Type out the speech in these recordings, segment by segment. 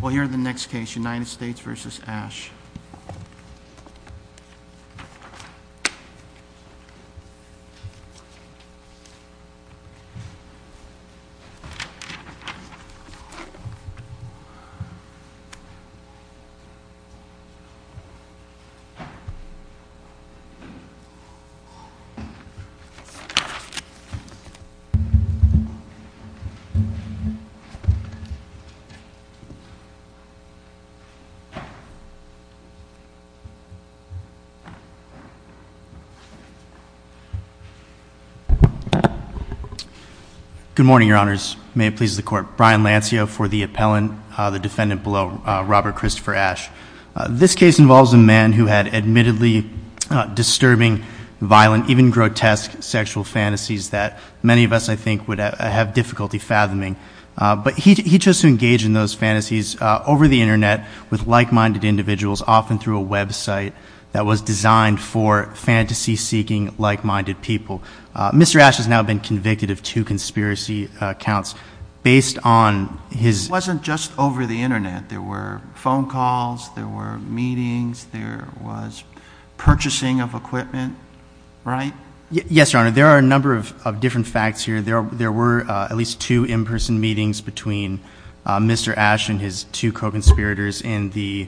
Well, here are the next case, United States v. Asch. Good morning, Your Honors. May it please the Court, Brian Lancio for the appellant, the defendant below, Robert Christopher Asch. This case involves a man who had admittedly disturbing, violent, even grotesque sexual fantasies that many of us, I think, would have difficulty fathoming. But he chose to engage in those fantasies over the Internet with like-minded individuals, often through a website that was designed for fantasy-seeking, like-minded people. Mr. Asch has now been convicted of two conspiracy accounts based on his — It wasn't just over the Internet. There were phone calls, there were meetings, there was purchasing of equipment, right? Yes, Your Honor. There are a number of different facts here. There were at least two in-person meetings between Mr. Asch and his two co-conspirators in the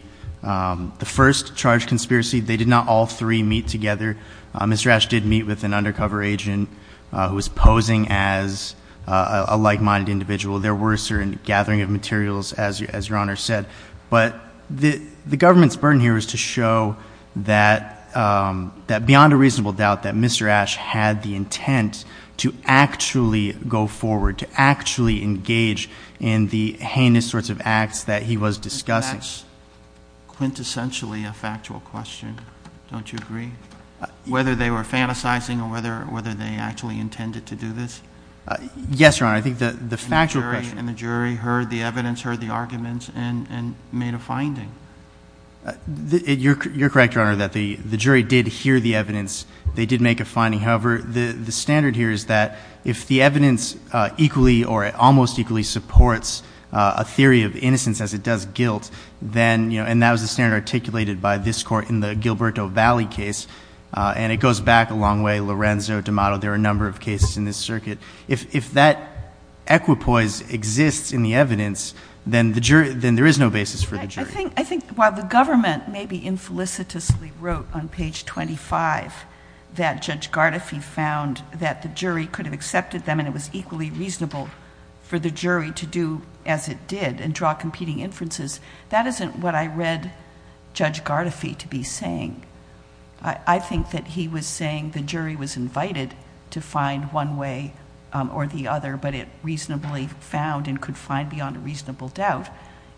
first charged conspiracy. They did not all three meet together. Mr. Asch did meet with an undercover agent who was posing as a like-minded individual. There were certain gathering of materials, as Your Honor said. But the government's burden here was to show that beyond a reasonable doubt that Mr. Asch had the intent to actually go forward, to actually engage in the heinous sorts of acts that he was discussing. Isn't that quintessentially a factual question? Don't you agree? Whether they were fantasizing or whether they actually intended to do this? Yes, Your Honor. I think the factual question — And the jury heard the evidence, heard the arguments, and made a finding? You're correct, Your Honor, that the jury did hear the evidence. They did make a finding. However, the standard here is that if the evidence equally or almost equally supports a theory of innocence as it does guilt, then — and that was the standard articulated by this Court in the Gilberto Valley case. And it goes back a long way. Lorenzo, D'Amato, there are a number of cases in this circuit. If that equipoise exists in the evidence, then there is no basis for the jury. I think while the government maybe infelicitously wrote on page 25 that Judge Gardefee found that the jury could have accepted them and it was equally reasonable for the jury to do as it did and draw competing inferences, that isn't what I read Judge Gardefee to be saying. I think that he was saying the jury was invited to find one way or the other, but it reasonably found and could find beyond a reasonable doubt,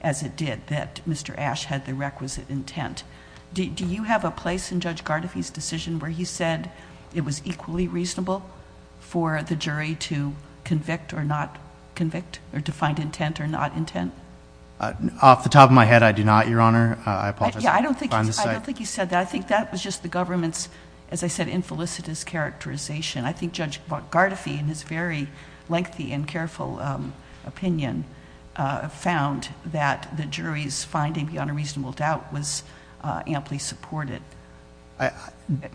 as it did, that Mr. Ash had the requisite intent. Do you have a place in Judge Gardefee's decision where he said it was equally reasonable for the jury to convict or not convict, or to find intent or not intent? Off the top of my head, I do not, Your Honor. I apologize. Yeah, I don't think he said that. I think that was just the government's, as I said, infelicitous characterization. I think Judge Gardefee, in his very lengthy and careful opinion, found that the jury's finding beyond a reasonable doubt was amply supported. Do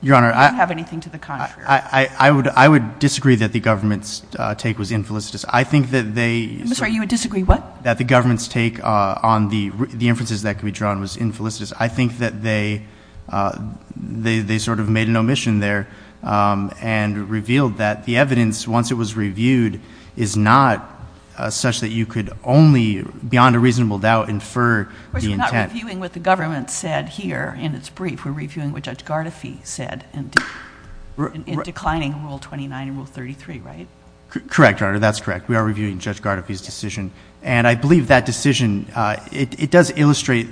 you have anything to the contrary? I would disagree that the government's take was infelicitous. I think that they I'm sorry, you would disagree what? That the government's take on the inferences that could be drawn was infelicitous. I think that they sort of made an omission there and revealed that the evidence, once it was reviewed, is not such that you could only, beyond a reasonable doubt, infer the intent. Of course, we're not reviewing what the government said here in its brief. We're reviewing what Judge Gardeefee said in declining Rule 29 and Rule 33, right? Correct, Your Honor. That's correct. We are reviewing Judge Gardeefee's decision. And I believe that decision, it does illustrate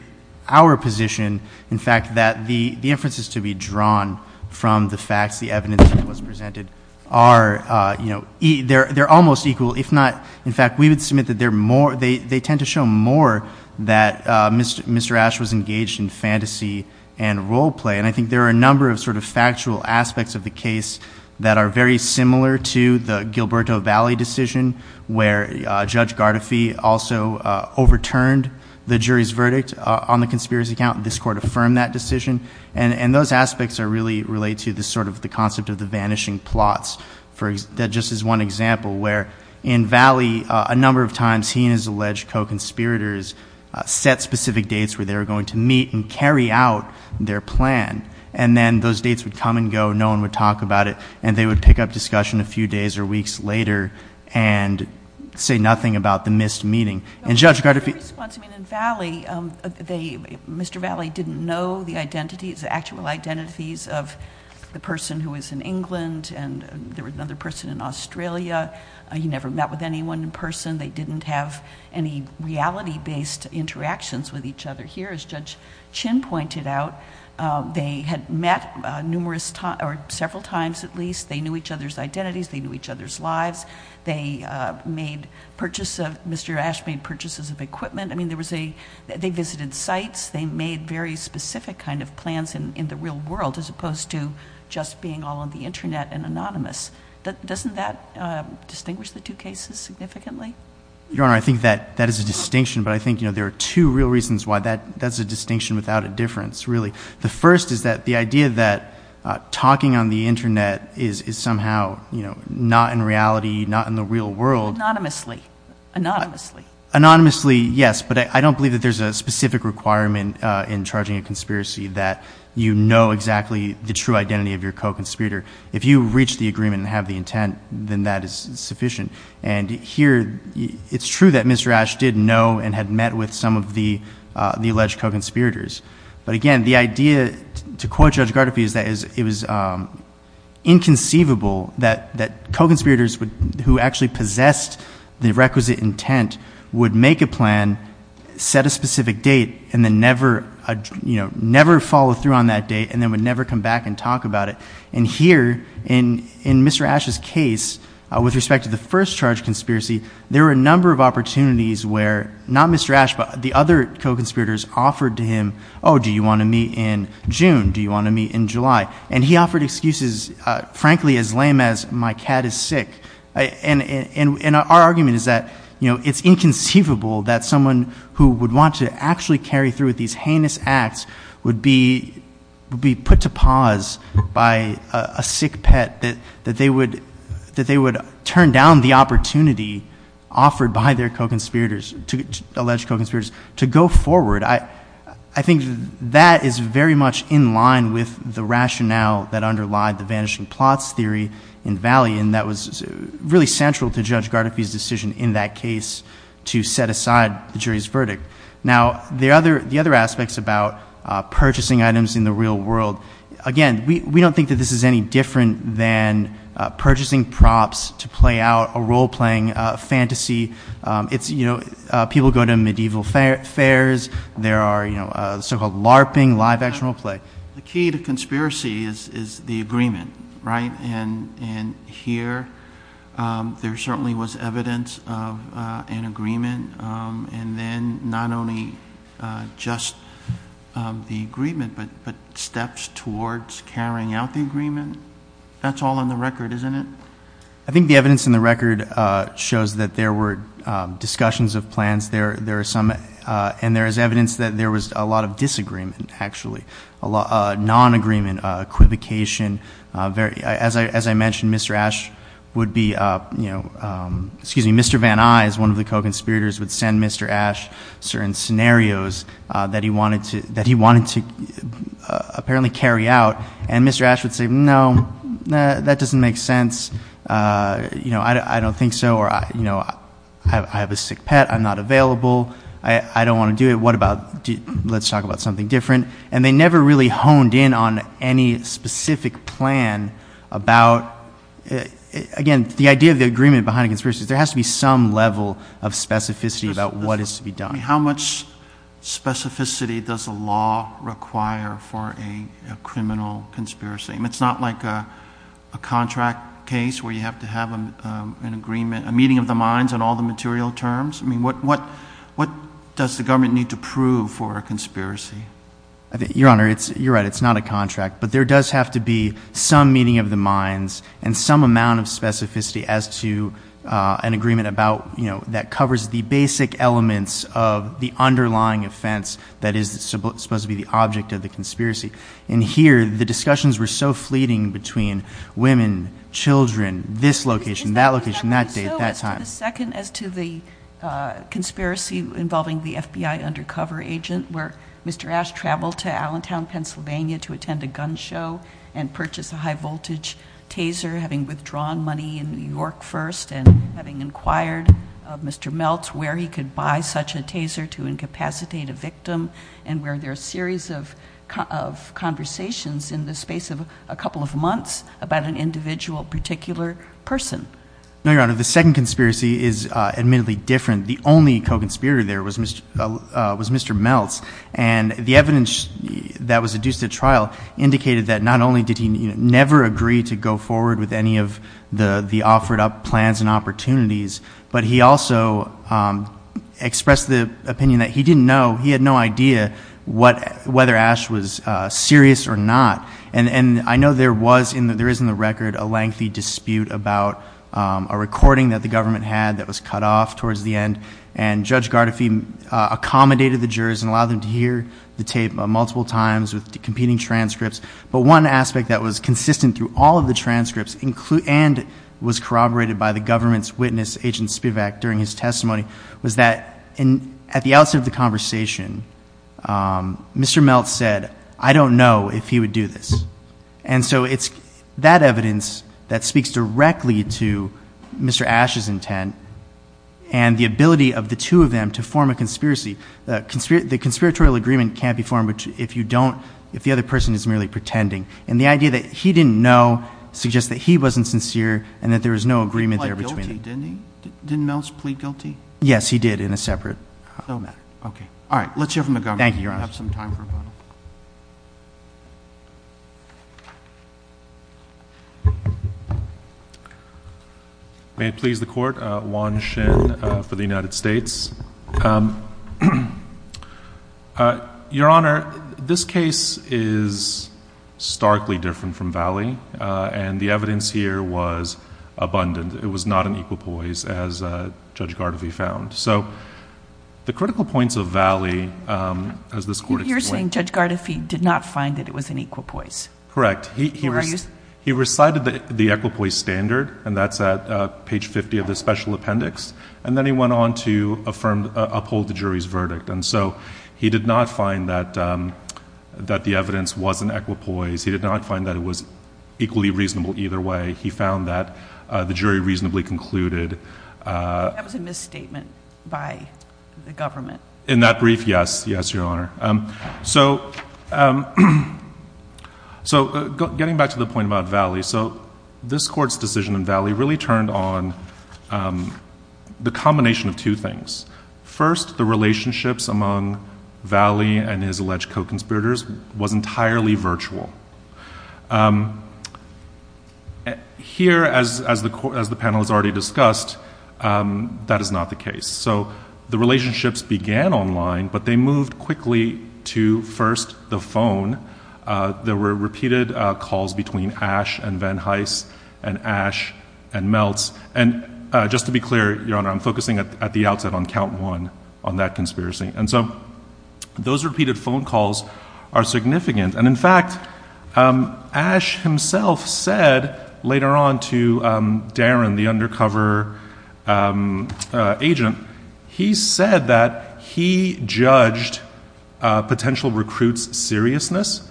our position, in fact, that the inferences to be drawn from the facts, the evidence that was presented, are, you know, they're almost equal. If not, in fact, we would submit that they tend to show more that Mr. Ashe was engaged in fantasy and role play. And I think there are a number of sort of factual aspects of the case that are very similar to the Gilberto Valley decision, where Judge Gardeefee also overturned the jury's verdict on the conspiracy count, and this Court affirmed that decision. And those aspects are really related to the sort of the concept of the vanishing plots, that just is one example, where in Valley, a number of times, he and his alleged co-conspirators set specific dates where they were going to meet and carry out their plan. And then those dates would come and go, no one would talk about it, and they would pick up discussion a few days or weeks later and say nothing about the missed meeting. And Judge Gardeefee... Your response, I mean, in Valley, Mr. Valley didn't know the identities, the actual identities of the person who was in England, and there was another person in Australia. He never met with anyone in person. They didn't have any reality-based interactions with each other about. They had met numerous times, or several times at least. They knew each other's identities. They knew each other's lives. They made purchase of... Mr. Ash made purchases of equipment. I mean, there was a... they visited sites. They made very specific kind of plans in the real world, as opposed to just being all on the Internet and anonymous. Doesn't that distinguish the two cases significantly? Your Honor, I think that is a distinction, but I think, you know, there are two real reasons why that's a distinction without a difference, really. The first is that the idea that talking on the Internet is somehow, you know, not in reality, not in the real world... Anonymously. Anonymously. Anonymously, yes, but I don't believe that there's a specific requirement in charging a conspiracy that you know exactly the true identity of your co-conspirator. If you reach the agreement and have the intent, then that is sufficient. And here, it's true that Mr. Ash is the alleged co-conspirator. But again, the idea, to quote Judge Gardefee, is that it was inconceivable that co-conspirators who actually possessed the requisite intent would make a plan, set a specific date, and then never, you know, never follow through on that date, and then would never come back and talk about it. And here, in Mr. Ash's case, with respect to the first charge conspiracy, there were a number of opportunities where not Mr. Ash, but the other co-conspirators offered to him, oh, do you want to meet in June? Do you want to meet in July? And he offered excuses, frankly, as lame as, my cat is sick. And our argument is that, you know, it's inconceivable that someone who would want to actually carry through with these heinous acts would be put to pause by a sick pet, that they would turn down the opportunity offered by their alleged co-conspirators to go forward. I think that is very much in line with the rationale that underlied the vanishing plots theory in Valley, and that was really central to Judge Gardefee's decision in that case to set aside the jury's verdict. Now, the other aspects about purchasing items in the real world, again, we don't think that this is any different than purchasing props to play out a role-playing fantasy. It's, you know, people go to medieval fairs, there are, you know, so-called LARPing, live-action role-play. The key to conspiracy is the agreement, right? And here, there certainly was evidence of an agreement, and then not only just the steps towards carrying out the agreement, that's all in the record, isn't it? I think the evidence in the record shows that there were discussions of plans, there are some, and there is evidence that there was a lot of disagreement, actually. A lot of non-agreement, equivocation, as I mentioned, Mr. Ash would be, you know, excuse me, Mr. Van Eye is one of the co-conspirators, would send Mr. Ash certain scenarios that he wanted to apparently carry out, and Mr. Ash would say, no, that doesn't make sense, you know, I don't think so, or, you know, I have a sick pet, I'm not available, I don't want to do it, what about, let's talk about something different. And they never really honed in on any specific plan about, again, the idea of the agreement behind a conspiracy is there has to be some level of specificity about what is to be done. How much specificity does a law require for a criminal conspiracy? I mean, it's not like a contract case where you have to have an agreement, a meeting of the minds on all the material terms? I mean, what does the government need to prove for a conspiracy? Your Honor, you're right, it's not a contract, but there does have to be some meeting of the minds and some amount of specificity as to an agreement about, you know, that covers the basic elements of the underlying offense that is supposed to be the object of the conspiracy. And here, the discussions were so fleeting between women, children, this location, that location, that date, that time. Is that what you're talking about? So as to the second, as to the conspiracy involving the FBI undercover agent, where Mr. Ash traveled to Allentown, Pennsylvania to attend a gun show, and purchased a high-voltage taser, having withdrawn money in New York first, and having inquired of Mr. Meltz where he could buy such a taser to incapacitate a victim, and were there a series of conversations in the space of a couple of months about an individual particular person? No, Your Honor, the second conspiracy is admittedly different. The only co-conspirator there was Mr. Meltz, and the evidence that was adduced at trial indicated that not only did he never agree to go forward with any of the offered up plans and opportunities, but he also expressed the opinion that he didn't know, he had no idea whether Ash was serious or not. And I know there was, there is in the record, a lengthy dispute about a recording that the jurors, and allowed them to hear the tape multiple times with competing transcripts, but one aspect that was consistent through all of the transcripts, and was corroborated by the government's witness, Agent Spivak, during his testimony, was that at the outset of the conversation, Mr. Meltz said, I don't know if he would do this. And so it's that evidence that speaks directly to Mr. Ash's intent, and the ability of the two of them to form a conspiracy. The conspiratorial agreement can't be formed if you don't, if the other person is merely pretending. And the idea that he didn't know, suggests that he wasn't sincere, and that there was no agreement there between them. He pled guilty, didn't he? Didn't Meltz plead guilty? Yes, he did, in a separate. No matter. Okay. All right, let's hear from the government. Thank you, Your Honor. We'll have some time for a vote. May it please the Court, Juan Shin for the United States. Your Honor, this case is starkly different from Valley, and the evidence here was abundant. It was not an equal poise, as Judge Gardoffy found. So, the critical points of Valley, as this Court explained. You're saying Judge Gardoffy did not find that it was an equal poise? Correct. He recited the equal poise standard, and that's at page 50 of the special appendix. And then he went on to uphold the jury's verdict. And so, he did not find that the evidence was an equal poise. He did not find that it was equally reasonable either way. He found that the jury reasonably concluded. That was a misstatement by the government. In that brief, yes. Yes, Your Honor. So, getting back to the point about Valley. So, this Court's decision in Valley really turned on the combination of two things. First, the relationships among Valley and his alleged co-conspirators was entirely virtual. Here, as the panel has already seen, the two of them were not online, but they moved quickly to, first, the phone. There were repeated calls between Ash and Van Hise, and Ash and Meltz. And just to be clear, Your Honor, I'm focusing at the outset on count one on that conspiracy. And so, those repeated phone calls are significant. And in fact, Ash himself said later on to Darren, the undercover agent, he said that he judged potential recruits' seriousness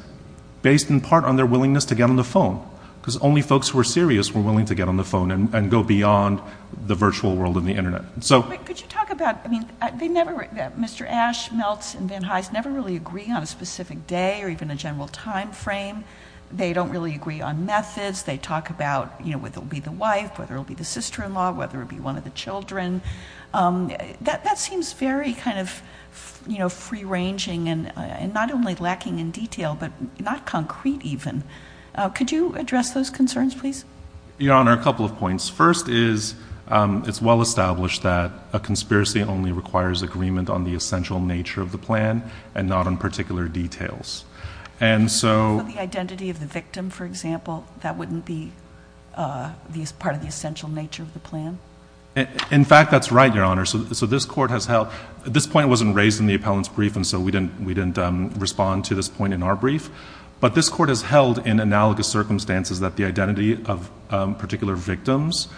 based in part on their willingness to get on the phone. Because only folks who are serious were willing to get on the phone and go beyond the virtual world of the Internet. But could you talk about, I mean, they never, Mr. Ash, Meltz, and Van Hise never really agree on a specific day or even a general time frame. They don't really agree on methods. They talk about, you know, whether it'll be the wife, whether it'll be the sister-in-law, whether it'll be one of the children. That seems very kind of, you know, free-ranging and not only lacking in detail, but not concrete even. Could you address those concerns, please? Your Honor, a couple of points. First is, it's well-established that a conspiracy only requires agreement on the essential nature of the plan and not on particular details. For the identity of the victim, for example, that wouldn't be part of the essential nature of the plan? In fact, that's right, Your Honor. So this Court has held—this point wasn't raised in the appellant's brief, and so we didn't respond to this point in our brief. But this Court has held, in analogous circumstances, that the identity of particular victims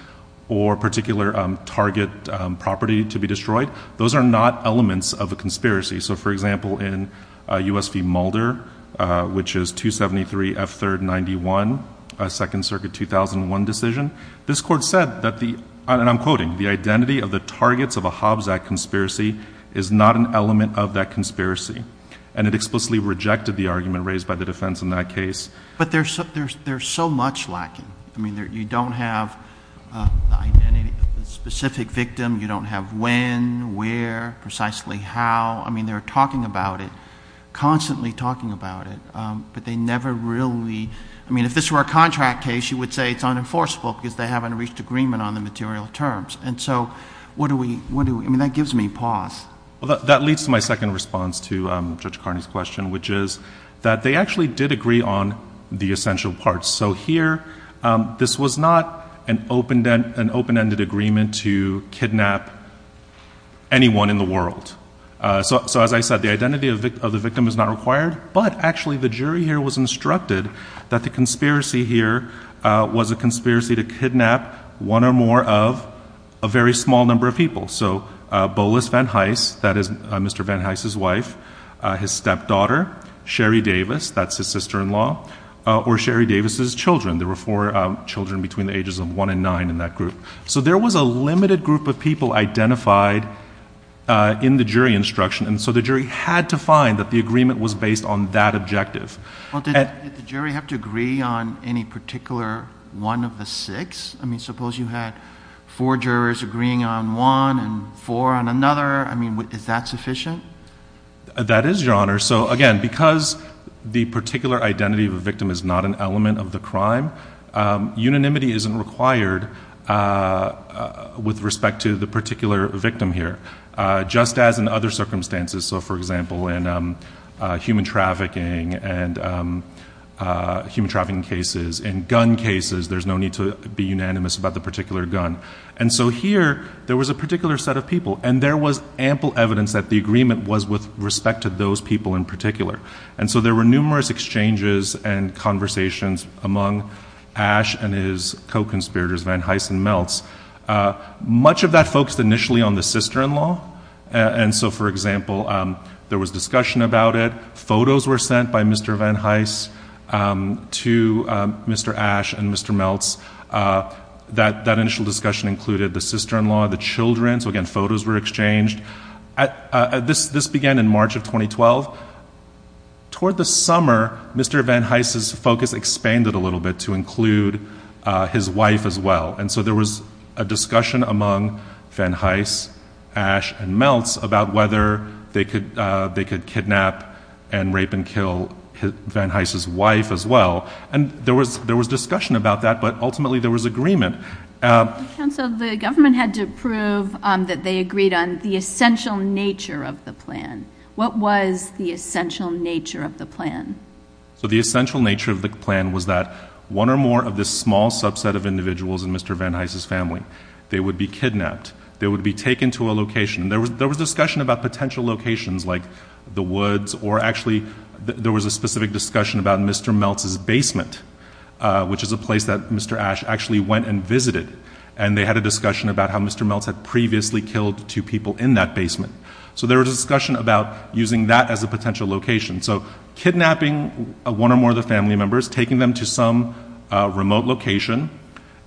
or particular target property to be destroyed, those are not elements of a conspiracy. So, for example, in U.S. v. Mulder, which is 273 F. 3rd 91, a Second Circuit 2001 decision, this Court said that the—and I'm quoting—the identity of the targets of a Hobbs Act conspiracy is not an element of that conspiracy. And it explicitly rejected the argument raised by the defense in that case. But there's so much lacking. I mean, you don't have the identity of the specific victim. You don't have when, where, precisely how. I mean, they're talking about it, constantly talking about it, but they never really—I mean, if this were a contract case, you would say it's unenforceable because they haven't reached agreement on the material terms. And so what do we—I mean, that gives me pause. That leads to my second response to Judge Carney's question, which is that they actually did agree on the essential parts. So here, this was not an open-ended agreement to kidnap anyone in the world. So, as I said, the identity of the victim is not required. But actually, the jury here was instructed that the conspiracy here was a conspiracy to kidnap one or more of a very small number of people. So, Bolas Van Hise, that is Mr. Van Hise's wife, his stepdaughter, Sherry Davis, that's his sister-in-law, or Sherry Davis's children. There were four children between the ages of one and nine in that group. So there was a limited group of people identified in the jury instruction, and so the jury had to find that the agreement was based on that objective. Well, did the jury have to agree on any particular one of the six? I mean, suppose you had four jurors agreeing on one and four on another. I mean, is that sufficient? That is, Your Honor. So, again, because the particular identity of a victim is not an with respect to the particular victim here, just as in other circumstances. So, for example, in human trafficking and human trafficking cases, in gun cases, there's no need to be unanimous about the particular gun. And so here, there was a particular set of people, and there was ample evidence that the agreement was with respect to those people in particular. And so there were numerous exchanges and conversations among Ash and his co-conspirators, Van Hise and Meltz. Much of that focused initially on the sister-in-law. And so, for example, there was discussion about it. Photos were sent by Mr. Van Hise to Mr. Ash and Mr. Meltz. That initial discussion included the sister-in-law, the children. So, again, photos were exchanged. This began in March of 2012. Toward the summer, Mr. Van Hise's focus expanded a little bit to include his wife as well. And so there was a discussion among Van Hise, Ash and Meltz about whether they could kidnap and rape and kill Van Hise's wife as well. And there was discussion about that, but ultimately there was agreement. Counsel, the government had to prove that they agreed on the essential nature of the plan. What was the essential nature of the plan? So the essential nature of the plan was that one or more of this small subset of individuals in Mr. Van Hise's family, they would be kidnapped. They would be taken to a location. There was discussion about potential locations like the woods or actually there was a specific discussion about Mr. Meltz's basement, which is a place that Mr. Ash actually went and visited. And they had a discussion about how Mr. Meltz had previously killed two people in that basement. So there was a discussion about using that as a potential location. So kidnapping one or more of the family members, taking them to some remote location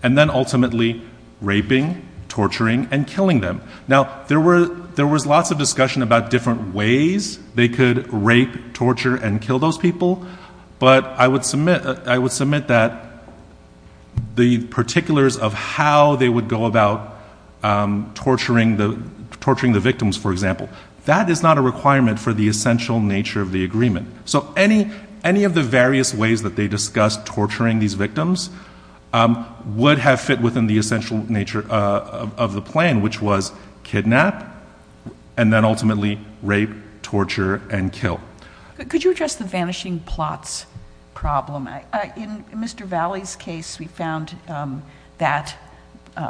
and then ultimately raping, torturing and killing them. Now there was lots of discussion about different ways they could rape, torture and kill those people. But I would submit that the particulars of how they would go about torturing the victims, for example, that is not a requirement for the essential nature of the agreement. So any of the various ways that they discussed torturing these victims would have fit within the essential nature of the plan, which was kidnap, and then ultimately rape, torture and kill. Could you address the vanishing plots problem? In Mr. Valley's case, we found that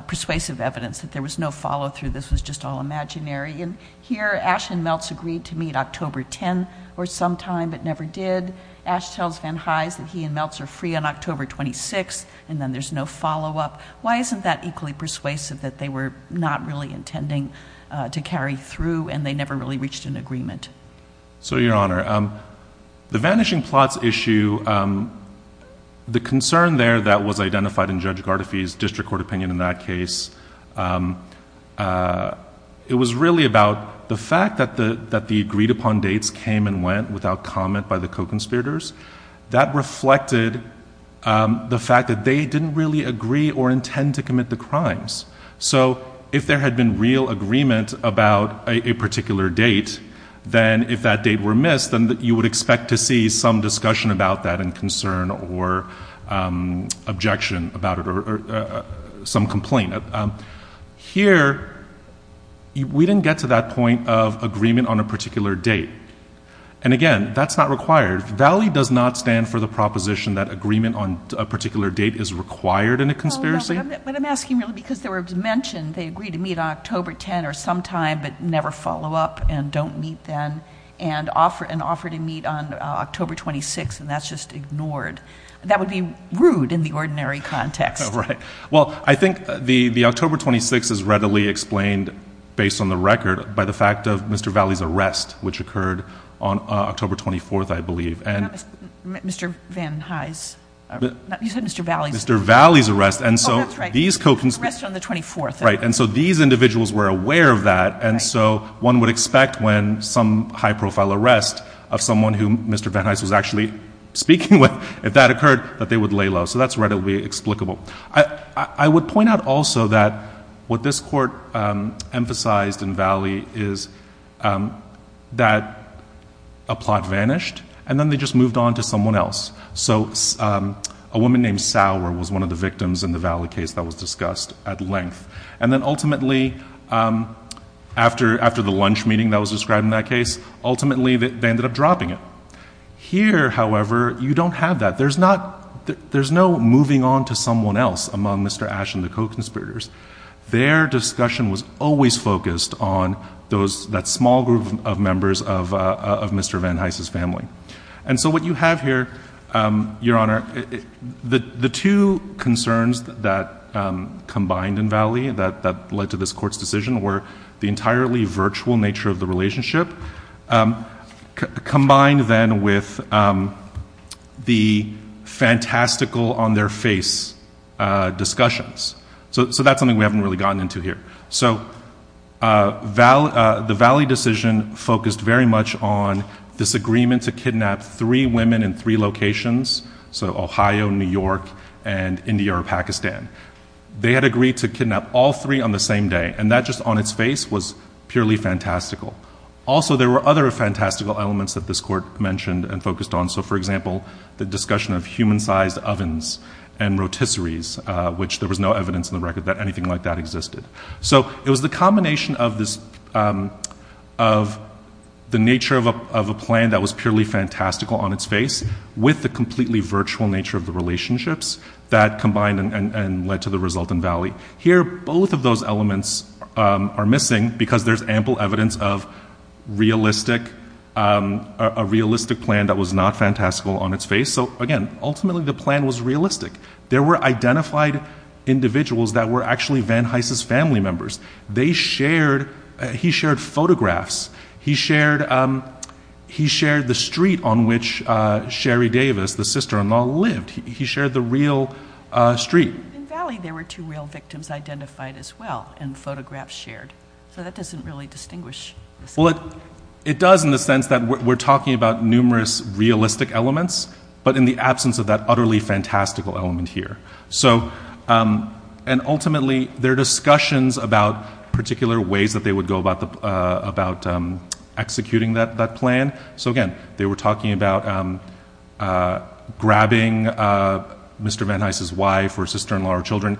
persuasive evidence that there was no follow through. This was just all imaginary. And here Ash and Meltz agreed to meet October 10 or sometime but never did. Ash tells Van Hise that he and Meltz are free on October 26 and then there's no follow up. Why isn't that equally persuasive that they were not really intending to carry through and they never really reached an agreement? So Your Honor, the vanishing plots issue, the concern there that was identified in Judge that the agreed upon dates came and went without comment by the co-conspirators, that reflected the fact that they didn't really agree or intend to commit the crimes. So if there had been real agreement about a particular date, then if that date were missed, then you would expect to see some discussion about that and concern or objection about it or some complaint. Here, we didn't get to that point of agreement on a particular date. And again, that's not required. Valley does not stand for the proposition that agreement on a particular date is required in a conspiracy. But I'm asking really because they were mentioned, they agreed to meet October 10 or sometime but never follow up and don't meet then and offer to meet on October 26 and that's just ignored. That would be rude in the ordinary context. Right. Well, I think the October 26 is readily explained based on the record by the fact of Mr. Valley's arrest which occurred on October 24th, I believe. Not Mr. Van Hise. You said Mr. Valley's. Mr. Valley's arrest. Oh, that's right. Arrested on the 24th. Right. And so these individuals were aware of that and so one would expect when some high profile arrest of someone who Mr. Van Hise was actually speaking with, if that occurred, that they would lay low. So that's readily explicable. I would point out also that what this court emphasized in Valley is that a plot vanished and then they just moved on to someone else. So a woman named Sauer was one of the victims in the Valley case that was discussed at length. And then ultimately, after the lunch meeting that was described in that case, ultimately they ended up dropping it. Here, however, you don't have that. There's no moving on to someone else among Mr. Ash and the co-conspirators. Their discussion was always focused on that small group of members of Mr. Van Hise's family. And so what you have here, Your Honor, the two concerns that combined in Valley that led to this court's decision were the entirely virtual nature of the relationship, combined then with the fantastical on their face discussions. So that's something we haven't really gotten into here. So the Valley decision focused very much on this agreement to kidnap three women in three locations, so Ohio, New York, and India or Pakistan. They had agreed to kidnap all three on the same day and that just on its face was purely fantastical. Also, there were other fantastical elements that this court mentioned and focused on. So for example, the discussion of human-sized ovens and rotisseries, which there was no evidence in the record that anything like that existed. So it was the combination of the nature of a plan that was purely fantastical on its face with the completely virtual nature of the relationships that combined and led to the result in Valley. Here, both of those elements are missing because there's ample evidence of a realistic plan that was not fantastical on its face. So again, ultimately the plan was realistic. There were identified individuals that were actually Van Hise's family members. He shared photographs. He shared the street on which Sherry Davis, the family, there were two real victims identified as well and photographs shared. So that doesn't really distinguish. It does in the sense that we're talking about numerous realistic elements, but in the absence of that utterly fantastical element here. Ultimately, there are discussions about particular ways that they would go about executing that plan. So again, they were talking about grabbing Mr. Van Hise's wife or sister-in-law or children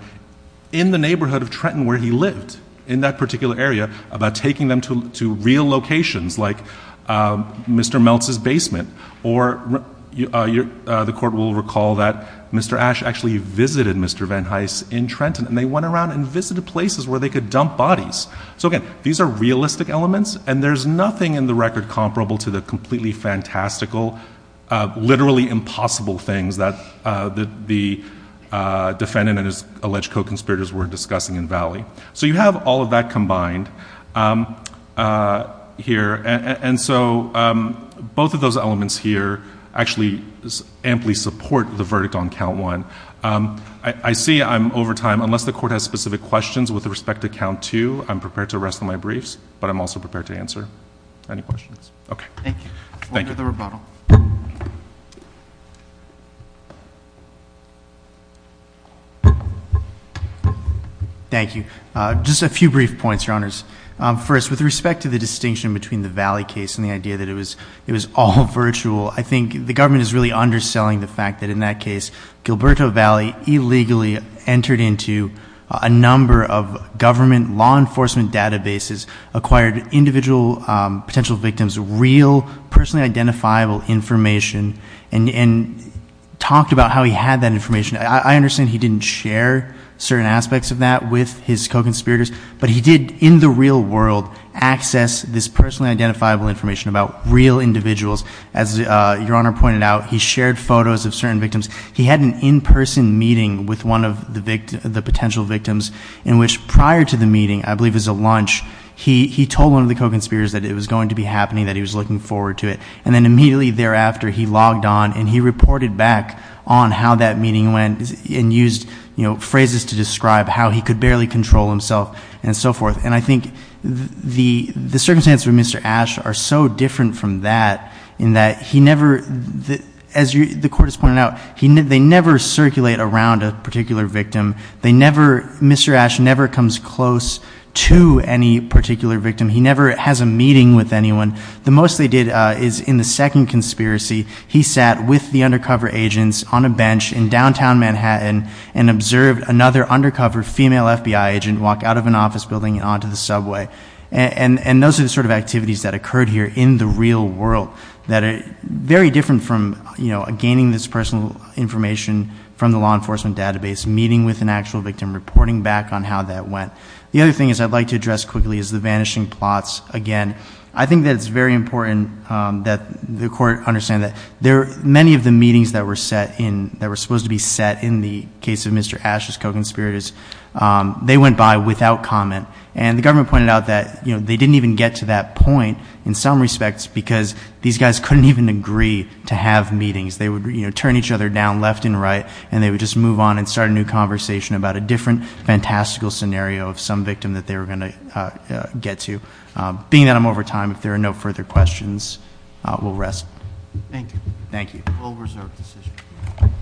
in the neighborhood of Trenton where he lived in that particular area, about taking them to real locations like Mr. Meltz's basement, or the court will recall that Mr. Ashe actually visited Mr. Van Hise in Trenton and they went around and visited places where they could dump bodies. So again, these are realistic elements and there's nothing in the record comparable to the completely fantastical, literally impossible things that the defendant and his alleged co-conspirators were discussing in Valley. So you have all of that combined here and so both of those elements here actually amply support the verdict on count one. I see I'm over time. Unless the court has specific questions with respect to count two, I'm prepared to rest on my briefs, but I'm also prepared to respond. Thank you. Just a few brief points, Your Honors. First, with respect to the distinction between the Valley case and the idea that it was all virtual, I think the government is really underselling the fact that in that case, Gilberto Valley illegally entered into a number of government law enforcement databases, acquired individual potential victims real, personally identifiable information, and talked about how he had that information. I understand he didn't share certain aspects of that with his co-conspirators, but he did in the real world access this personally identifiable information about real individuals. As Your Honor pointed out, he shared photos of certain victims. He had an in-person meeting with one of the potential victims in which prior to the meeting, I believe it was a lunch, he told one of the co-conspirators that it was going to be happening, that he was looking forward to it. And then immediately thereafter, he logged on and he reported back on how that meeting went and used phrases to describe how he could barely control himself and so forth. And I think the circumstances with Mr. Ashe are so different from that in that he never, as the Court has pointed out, they never circulate around a particular victim. Mr. Ashe never comes close to any particular victim. He never has a meeting with anyone. The most they did is in the second conspiracy, he sat with the undercover agents on a bench in downtown Manhattan and observed another undercover female FBI agent walk out of an office building and onto the subway. And those are the sort of activities that occurred here in the real world that are very different from gaining this personal information from the law enforcement database, meeting with an actual victim, reporting back on how that went. The other thing is I'd like to address quickly is the vanishing plots again. I think that it's very important that the Court understand that there are many of the meetings that were set in, that were supposed to be set in the case of Mr. Ashe's co-conspirators, they went by without comment. And the government pointed out that, you know, they didn't even get to that point in some respects because these guys couldn't even agree to have meetings. They would, you know, turn each other down left and right and they would just move on and start a new conversation about a different fantastical scenario of some victim that they were going to get to. Being that I'm over time, if there are no further questions, we'll rest. Thank you. Thank you. We'll reserve the session.